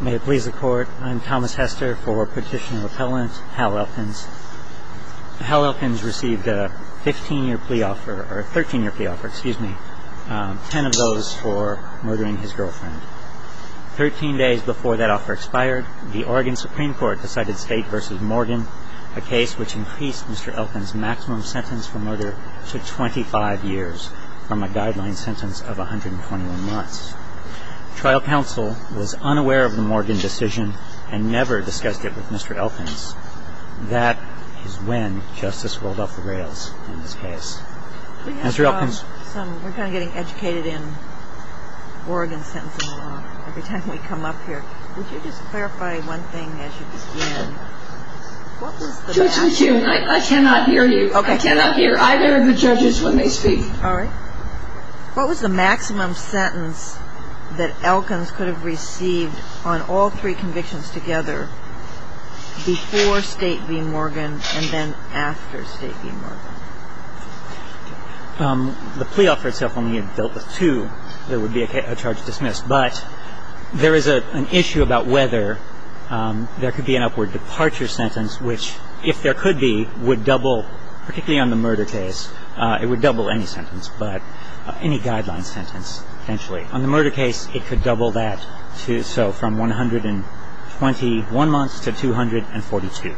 May it please the Court, I'm Thomas Hester for Petitioner Repellent, Hal Elkins. Hal Elkins received a 13-year plea offer, 10 of those for murdering his girlfriend. 13 days before that offer expired, the Oregon Supreme Court decided State v. Morgan, a case which increased Mr. Elkins' maximum sentence for murder to 25 years from a guideline sentence of 121 months. Trial counsel was unaware of the Morgan decision and never discussed it with Mr. Elkins. That is when justice rolled off the rails in this case. We're kind of getting educated in Oregon sentencing law every time we come up here. Would you just clarify one thing as you begin? Judge, I cannot hear you. I cannot hear either of the judges when they speak. All right. What was the maximum sentence that Elkins could have received on all three convictions together before State v. Morgan and then after State v. Morgan? The plea offer itself only had dealt with two that would be a charge dismissed, but there is an issue about whether there could be an upward departure sentence, which, if there could be, would double, particularly on the murder case, it would double any sentence, but any guideline sentence, potentially. On the murder case, it could double that, so from 121 months to 242,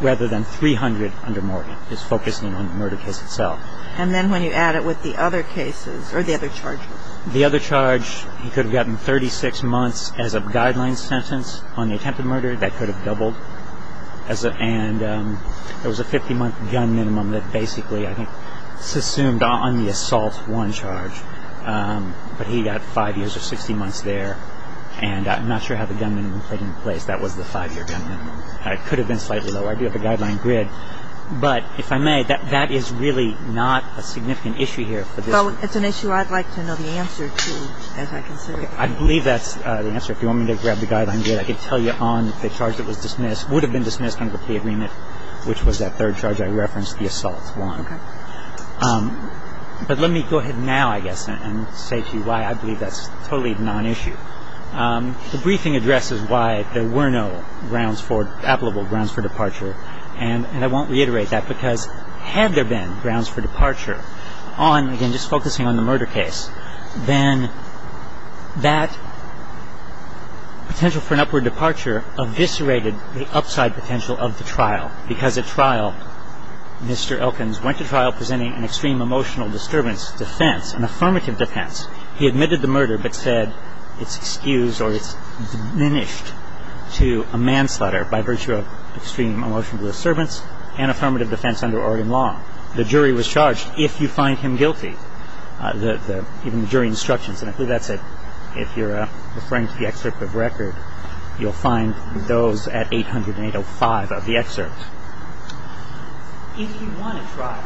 rather than 300 under Morgan, just focusing on the murder case itself. And then when you add it with the other cases or the other charges? The other charge, he could have gotten 36 months as a guideline sentence on the attempted murder. That could have doubled. And there was a 50-month gun minimum that basically, I think, assumed on the assault warrant charge, but he got five years or 60 months there. And I'm not sure how the gun minimum played into place. That was the five-year gun minimum. It could have been slightly lower. I do have a guideline grid, but if I may, that is really not a significant issue here. But it's an issue I'd like to know the answer to, as I consider it. I believe that's the answer. If you want me to grab the guideline grid, I can tell you on the charge that was dismissed, would have been dismissed under the agreement, which was that third charge I referenced, the assault warrant. Okay. But let me go ahead now, I guess, and say to you why I believe that's totally non-issue. The briefing addresses why there were no applicable grounds for departure, and I won't reiterate that because had there been grounds for departure on, again, just focusing on the murder case, then that potential for an upward departure eviscerated the upside potential of the trial because at trial, Mr. Elkins went to trial presenting an extreme emotional disturbance defense, an affirmative defense. He admitted the murder but said it's excused or it's diminished to a manslaughter by virtue of extreme emotional disturbance and affirmative defense under Oregon law. The jury was charged if you find him guilty, even the jury instructions, and I believe that's it. If you're referring to the excerpt of record, you'll find those at 800-805 of the excerpt. If he won a trial,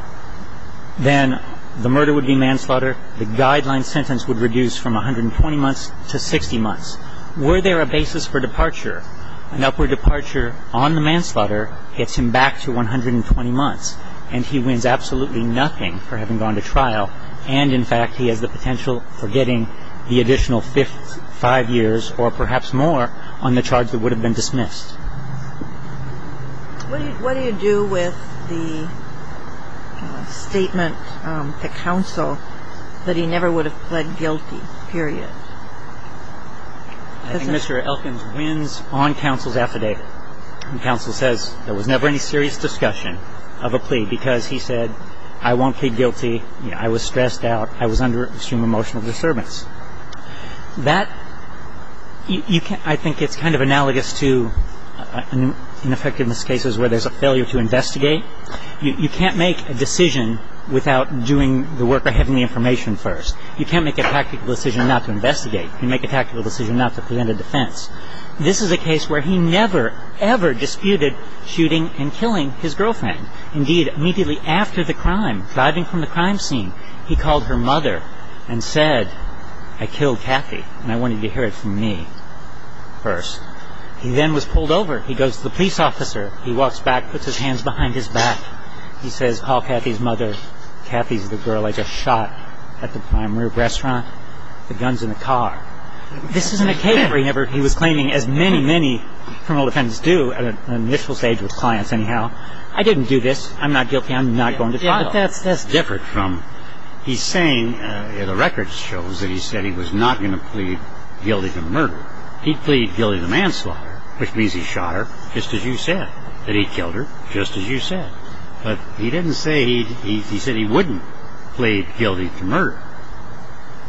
then the murder would be manslaughter. The guideline sentence would reduce from 120 months to 60 months. Were there a basis for departure, an upward departure on the manslaughter gets him back to 120 months and he wins absolutely nothing for having gone to trial, and in fact he has the potential for getting the additional five years or perhaps more on the charge that would have been dismissed. What do you do with the statement to counsel that he never would have pled guilty, period? I think Mr. Elkins wins on counsel's affidavit. Counsel says there was never any serious discussion of a plea because he said, I won't plead guilty, I was stressed out, I was under extreme emotional disturbance. That, I think it's kind of analogous to ineffectiveness cases where there's a failure to investigate. You can't make a decision without doing the work of having the information first. You can't make a tactical decision not to investigate. You make a tactical decision not to present a defense. This is a case where he never, ever disputed shooting and killing his girlfriend. Indeed, immediately after the crime, driving from the crime scene, he called her mother and said, I killed Kathy and I wanted you to hear it from me first. He then was pulled over. He goes to the police officer. He walks back, puts his hands behind his back. He says, call Kathy's mother. Kathy's the girl I just shot at the prime rib restaurant. The gun's in the car. This is an occasion where he was claiming, as many, many criminal defendants do at an initial stage with clients anyhow, I didn't do this. I'm not guilty. I'm not going to trial. That's different from, he's saying, the record shows that he said he was not going to plead guilty to murder. He pleaded guilty to manslaughter, which means he shot her just as you said, that he killed her just as you said. But he didn't say, he said he wouldn't plead guilty to murder.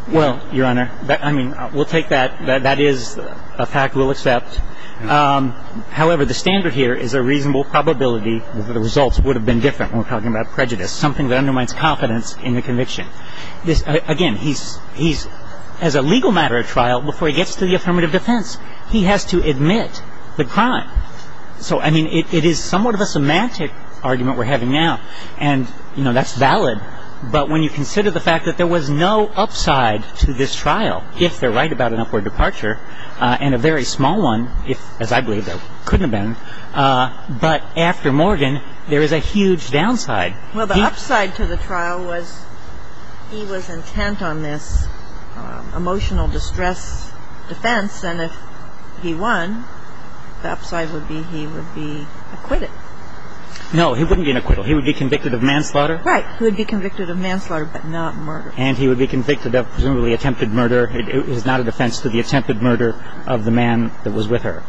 Well, Your Honor, I mean, we'll take that. That is a fact we'll accept. However, the standard here is a reasonable probability that the results would have been different when we're talking about prejudice, something that undermines confidence in the conviction. Again, he's, as a legal matter of trial, before he gets to the affirmative defense, he has to admit the crime. So, I mean, it is somewhat of a semantic argument we're having now, and, you know, that's valid. But when you consider the fact that there was no upside to this trial, if they're right about an upward departure, and a very small one, if, as I believe, there couldn't have been, but after Morgan, there is a huge downside. Well, the upside to the trial was he was intent on this emotional distress defense, and if he won, the upside would be he would be acquitted. No, he wouldn't be an acquittal. He would be convicted of manslaughter. Right. He would be convicted of manslaughter, but not murder. And he would be convicted of presumably attempted murder. It is not a defense to the attempted murder of the man that was with her.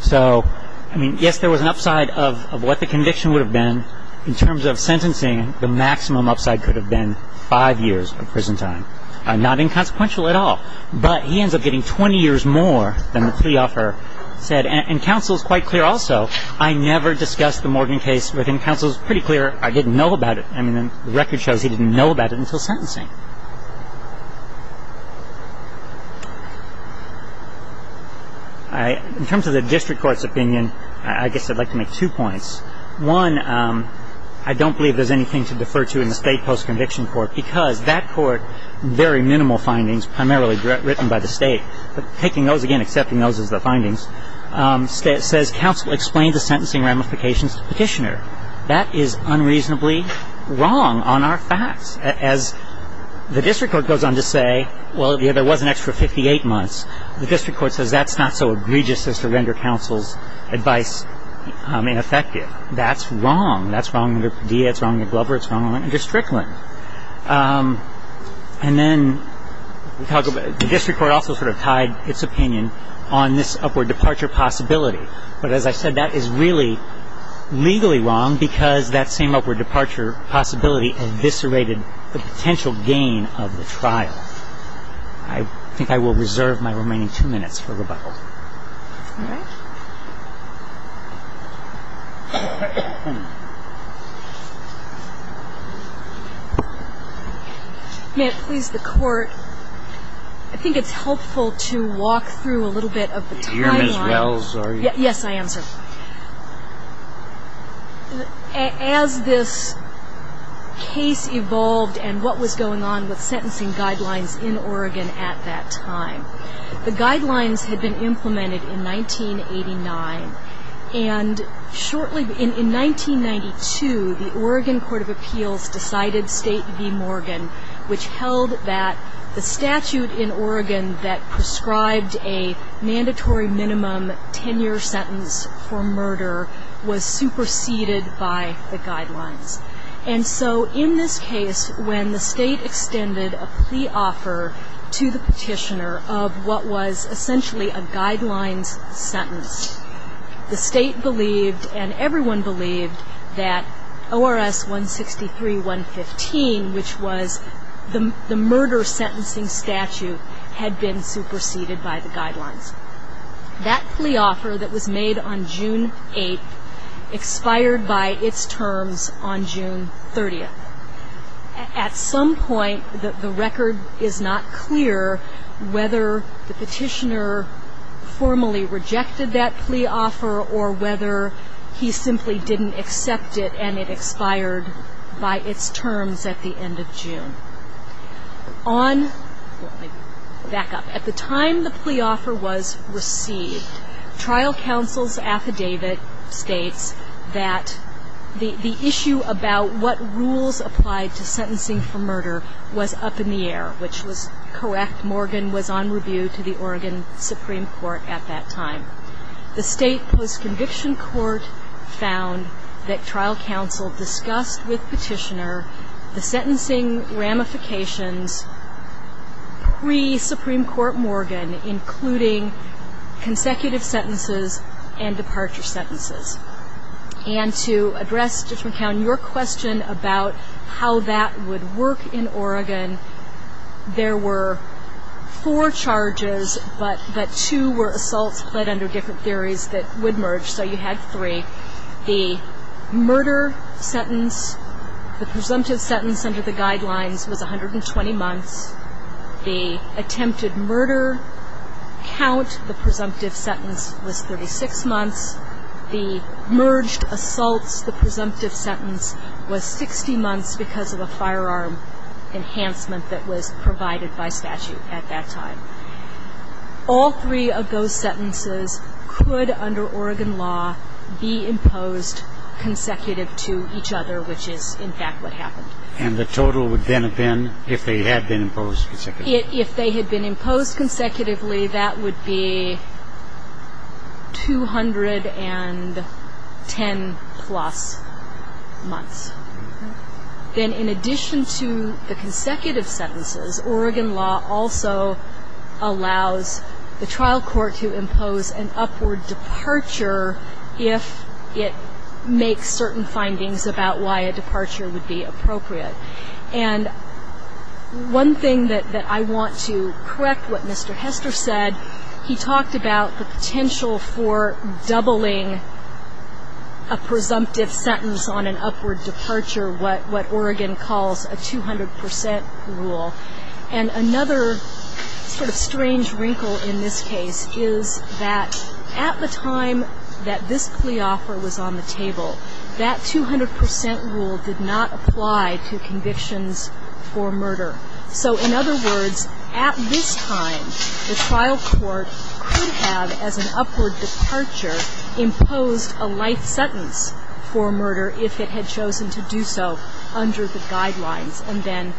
So, I mean, yes, there was an upside of what the conviction would have been. In terms of sentencing, the maximum upside could have been five years of prison time. Not inconsequential at all. But he ends up getting 20 years more than the plea offer said. And counsel is quite clear also. I never discussed the Morgan case with him. Counsel is pretty clear I didn't know about it. I mean, the record shows he didn't know about it until sentencing. In terms of the district court's opinion, I guess I'd like to make two points. One, I don't believe there's anything to defer to in the state post-conviction court because that court, very minimal findings, primarily written by the state, but taking those again, accepting those as the findings, says counsel explained the sentencing ramifications to the petitioner. That is unreasonably wrong on our facts. As the district court goes on to say, well, there was an extra 58 months, the district court says that's not so egregious as to render counsel's advice ineffective. That's wrong. That's wrong under Padilla. It's wrong under Glover. It's wrong under Strickland. And then the district court also sort of tied its opinion on this upward departure possibility. But as I said, that is really legally wrong because that same upward departure possibility eviscerated the potential gain of the trial. I think I will reserve my remaining two minutes for rebuttal. All right. May it please the Court, I think it's helpful to walk through a little bit of the timeline. You're Ms. Wells, are you? Yes, I am, sir. As this case evolved and what was going on with sentencing guidelines in Oregon at that time, the guidelines had been implemented in 1989. And shortly, in 1992, the Oregon Court of Appeals decided State v. Morgan, which held that the statute in Oregon that prescribed a mandatory minimum 10-year sentence for murder was superseded by the guidelines. And so in this case, when the State extended a plea offer to the petitioner of what was essentially a guidelines sentence, the State believed and everyone believed that ORS 163.115, which was the murder sentencing statute, had been superseded by the guidelines. That plea offer that was made on June 8 expired by its terms on June 30th. At some point, the record is not clear whether the petitioner formally rejected that plea offer or whether he simply didn't accept it and it expired by its terms at the end of June. On, back up, at the time the plea offer was received, trial counsel's affidavit states that the issue about what rules applied to sentencing for murder was up in the air, which was correct. Morgan was on review to the Oregon Supreme Court at that time. The State post-conviction court found that trial counsel discussed with petitioner the sentencing ramifications pre-Supreme Court Morgan, including consecutive sentences and departure sentences. And to address, Judge McCown, your question about how that would work in Oregon, there were four charges, but two were assaults pled under different theories that would merge, so you had three. The murder sentence, the presumptive sentence under the guidelines was 120 months. The attempted murder count, the presumptive sentence, was 36 months. The merged assaults, the presumptive sentence, was 60 months because of a firearm enhancement that was provided by statute at that time. All three of those sentences could, under Oregon law, be imposed consecutive to each other, which is, in fact, what happened. And the total would then have been, if they had been imposed consecutively? If they had been imposed consecutively, that would be 210-plus months. Then in addition to the consecutive sentences, Oregon law also allows the trial court to impose an upward departure if it makes certain findings about why a departure would be appropriate. And one thing that I want to correct what Mr. Hester said, he talked about the potential for doubling a departure, what Oregon calls a 200 percent rule. And another sort of strange wrinkle in this case is that at the time that this plea offer was on the table, that 200 percent rule did not apply to convictions for murder. So in other words, at this time, the trial court could have, as an upward departure, imposed a life sentence for murder if it had chosen to do so under the guidelines. And then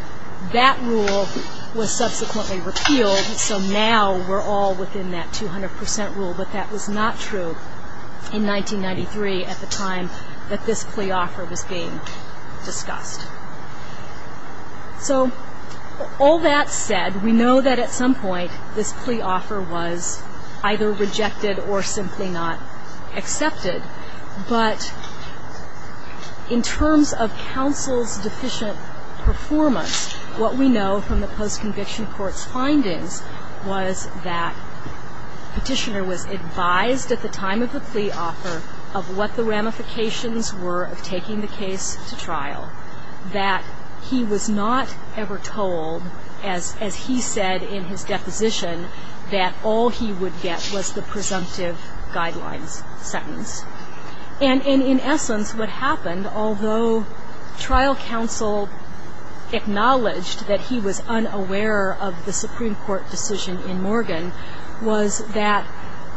that rule was subsequently repealed, so now we're all within that 200 percent rule. But that was not true in 1993 at the time that this plea offer was being discussed. So all that said, we know that at some point this plea offer was either rejected or simply not applicable. Accepted, but in terms of counsel's deficient performance, what we know from the post-conviction court's findings was that Petitioner was advised at the time of the plea offer of what the ramifications were of taking the case to trial, that he was not ever told, as he said in his deposition, that all he would get was the presumptive guidelines sentence. And in essence, what happened, although trial counsel acknowledged that he was unaware of the Supreme Court decision in 1993, he was not told that he would get the presumptive guidelines sentence. And that's what we know from the post-conviction court's findings.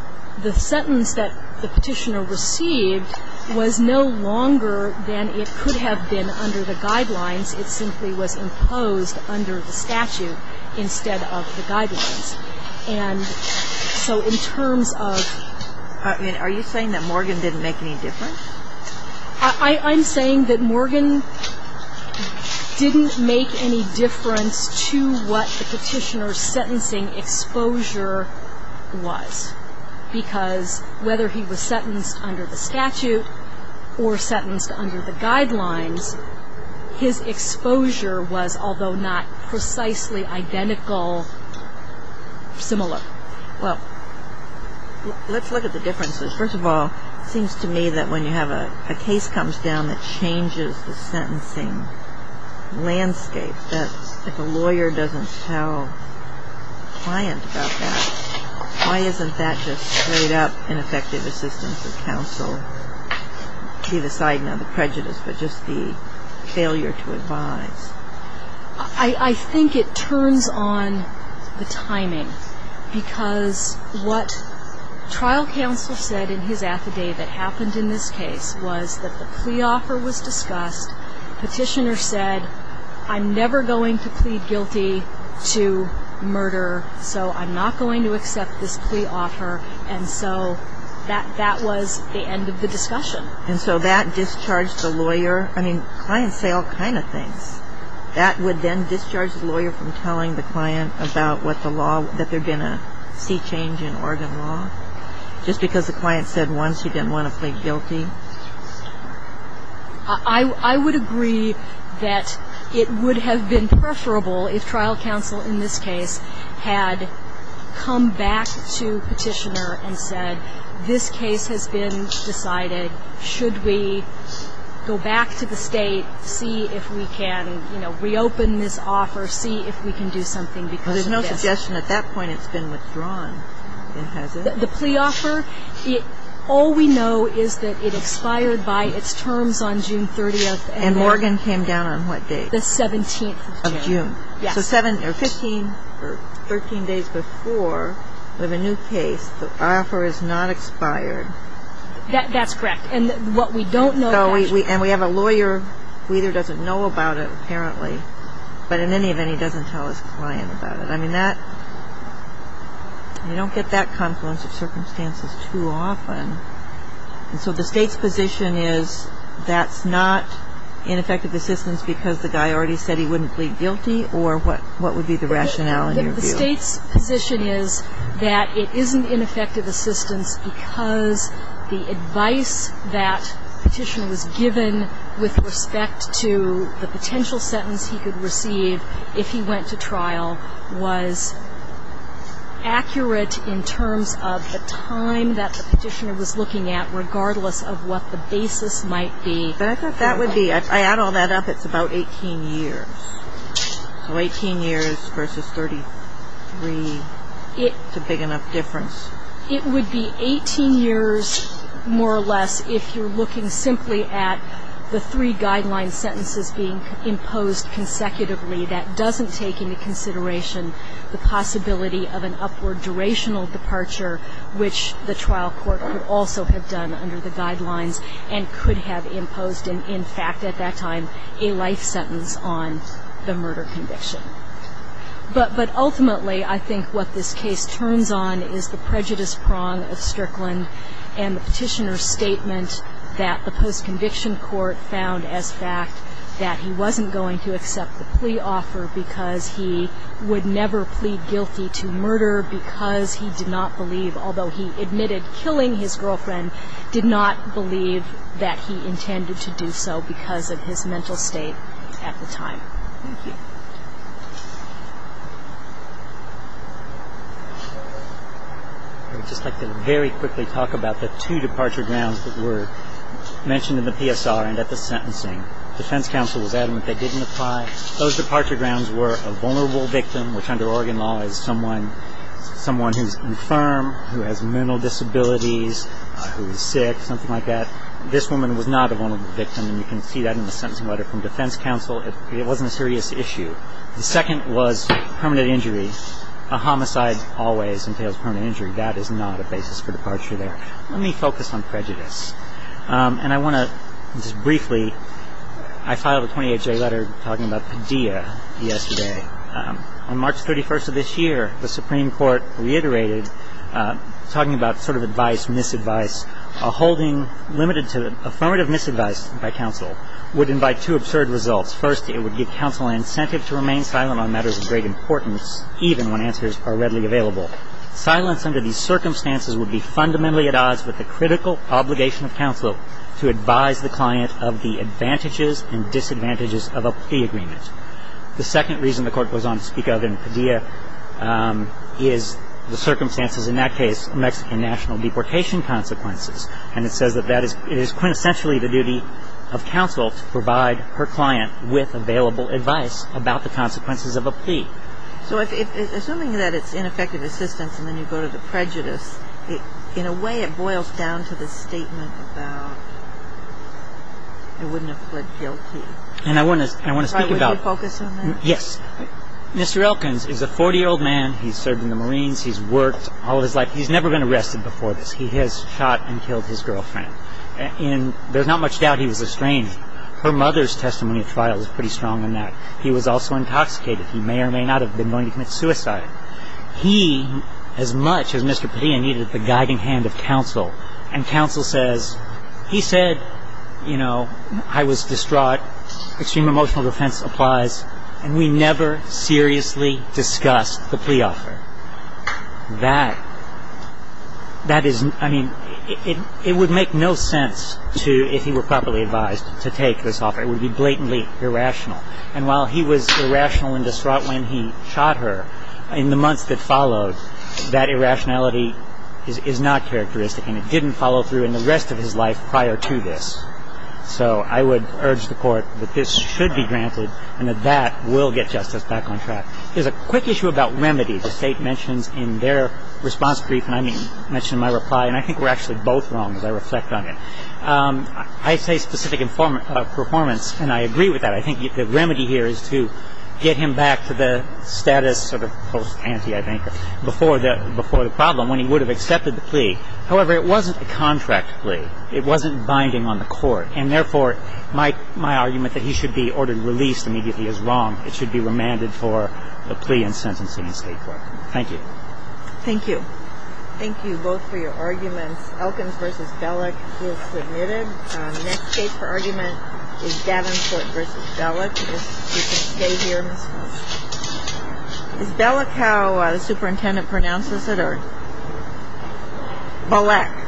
Are you saying that Morgan didn't make any difference? I'm saying that Morgan didn't make any difference to what the Petitioner's sentencing exposure was, because whether he was aware of the presumptive guidelines sentence or not, he was not told that he would get the presumptive guidelines sentence. So what are the differences? First of all, it seems to me that when you have a case comes down that changes the sentencing landscape, that if a lawyer doesn't tell a client about that, why isn't that just straight up ineffective assistance of counsel? Be the side, not the prejudice, but just the failure to advise. I think it turns on the timing, because what trial counsel said in his affidavit happened in this case was that the plea offer was discussed, Petitioner said, I'm never going to plead guilty to murder, so I'm not going to accept this plea offer, and so that was the end of the discussion. And so that discharged the lawyer. I mean, clients say all kinds of things. That would then discharge the lawyer from telling the client about what the law, that they're going to see change in Oregon law, just because the client said once he didn't want to plead guilty? I would agree that it would have been preferable if trial counsel in this case had come back to Petitioner and said, this case has been decided, should we go back to the State, see if we can, you know, reopen this offer, see if we can do something because of this? Well, there's no suggestion at that point it's been withdrawn, has it? The plea offer, all we know is that it expired by its terms on June 30th. And Oregon came down on what date? The 17th of June. So 15 or 13 days before, we have a new case, the offer is not expired. That's correct. And what we don't know. And we have a lawyer who either doesn't know about it, apparently, but in any event, he doesn't tell his client about it. I mean, that, you don't get that confluence of circumstances too often. And so the State's position is that's not ineffective assistance because the guy already said he wouldn't plead guilty, or what would be the rationale in your view? The State's position is that it isn't ineffective assistance because the advice that Petitioner was given with respect to the case was accurate in terms of the time that the Petitioner was looking at, regardless of what the basis might be. But I thought that would be, I add all that up, it's about 18 years. So 18 years versus 33, it's a big enough difference? It would be 18 years, more or less, if you're looking simply at the three guideline sentences being imposed consecutively that doesn't take into consideration the possibility of an upward durational departure, which the trial court could also have done under the guidelines and could have imposed, in fact, at that time, a life sentence on the murder conviction. But ultimately, I think what this case turns on is the prejudice prong of Strickland and the Petitioner's statement that the Petitioner would never offer because he would never plead guilty to murder because he did not believe, although he admitted killing his girlfriend, did not believe that he intended to do so because of his mental state at the time. I would just like to very quickly talk about the two departure grounds that were mentioned in the PSR and at the sentencing. Defense counsel was adamant they didn't apply. Those departure grounds were a vulnerable victim, which under Oregon law is someone who's infirm, who has mental disabilities, who is sick, something like that. This woman was not a vulnerable victim, and you can see that in the sentencing letter from defense counsel. It wasn't a serious issue. The second was permanent injury. A homicide always entails permanent injury. That is not a basis for departure there. Let me focus on prejudice, and I want to just briefly, I filed a 28-J letter talking about Padilla yesterday. On March 31st of this year, the Supreme Court reiterated, talking about sort of advice, misadvice, a holding limited to affirmative misadvice by counsel would invite two absurd results. First, it would give counsel an incentive to remain silent on matters of great importance, even when answers are readily available. Silence under these circumstances would be fundamentally at odds with the critical obligation of counsel to advise the client of the advantages and disadvantages of a plea agreement. The second reason the Court goes on to speak of in Padilla is the circumstances in that case, Mexican national deportation consequences, and it says that that is quintessentially the duty of counsel to provide her client with available advice about the consequences of a plea. So assuming that it's ineffective assistance and then you go to the prejudice, in a way it boils down to the statement about, I wouldn't have fled guilty. And I want to speak about... Would you focus on that? Yes. Mr. Elkins is a 40-year-old man. He's served in the Marines. He's worked all his life. He's never been arrested before this. He has shot and killed his girlfriend. There's not much doubt he was estranged. Her mother's testimony at trial is pretty strong on that. He was also intoxicated. He may or may not have been going to commit suicide. He, as much as Mr. Padilla needed the guiding hand of counsel, and counsel says, he said, you know, I was distraught, extreme emotional defense applies, and we never seriously discussed the plea offer. That is, I mean, it would make no sense to, if he were properly advised, to take this offer. It would be blatantly irrational. And while he was irrational and distraught when he shot her, in the months that followed, that irrationality is not characteristic, and it didn't follow through in the rest of his life prior to this. So I would urge the court that this should be granted, and that that will get justice back on track. There's a quick issue about remedy the State mentions in their response brief, and I mentioned in my reply, and I think we're actually both wrong as I reflect on it. I say specific performance, and I agree with that. I think the remedy here is to get him back to the status of a post ante, I think, before the problem, when he would have accepted the plea. However, it wasn't a contract plea. It wasn't binding on the court, and therefore, my argument that he should be ordered released immediately is wrong. It should be remanded for the plea and sentencing in State court. Thank you. Thank you. Thank you both for your arguments. Elkins v. Bellick is submitted. The next case for argument is Davenport v. Bellick. If you could stay here, Ms. Bellick. Is Bellick how the superintendent pronounces it, or? Bellack.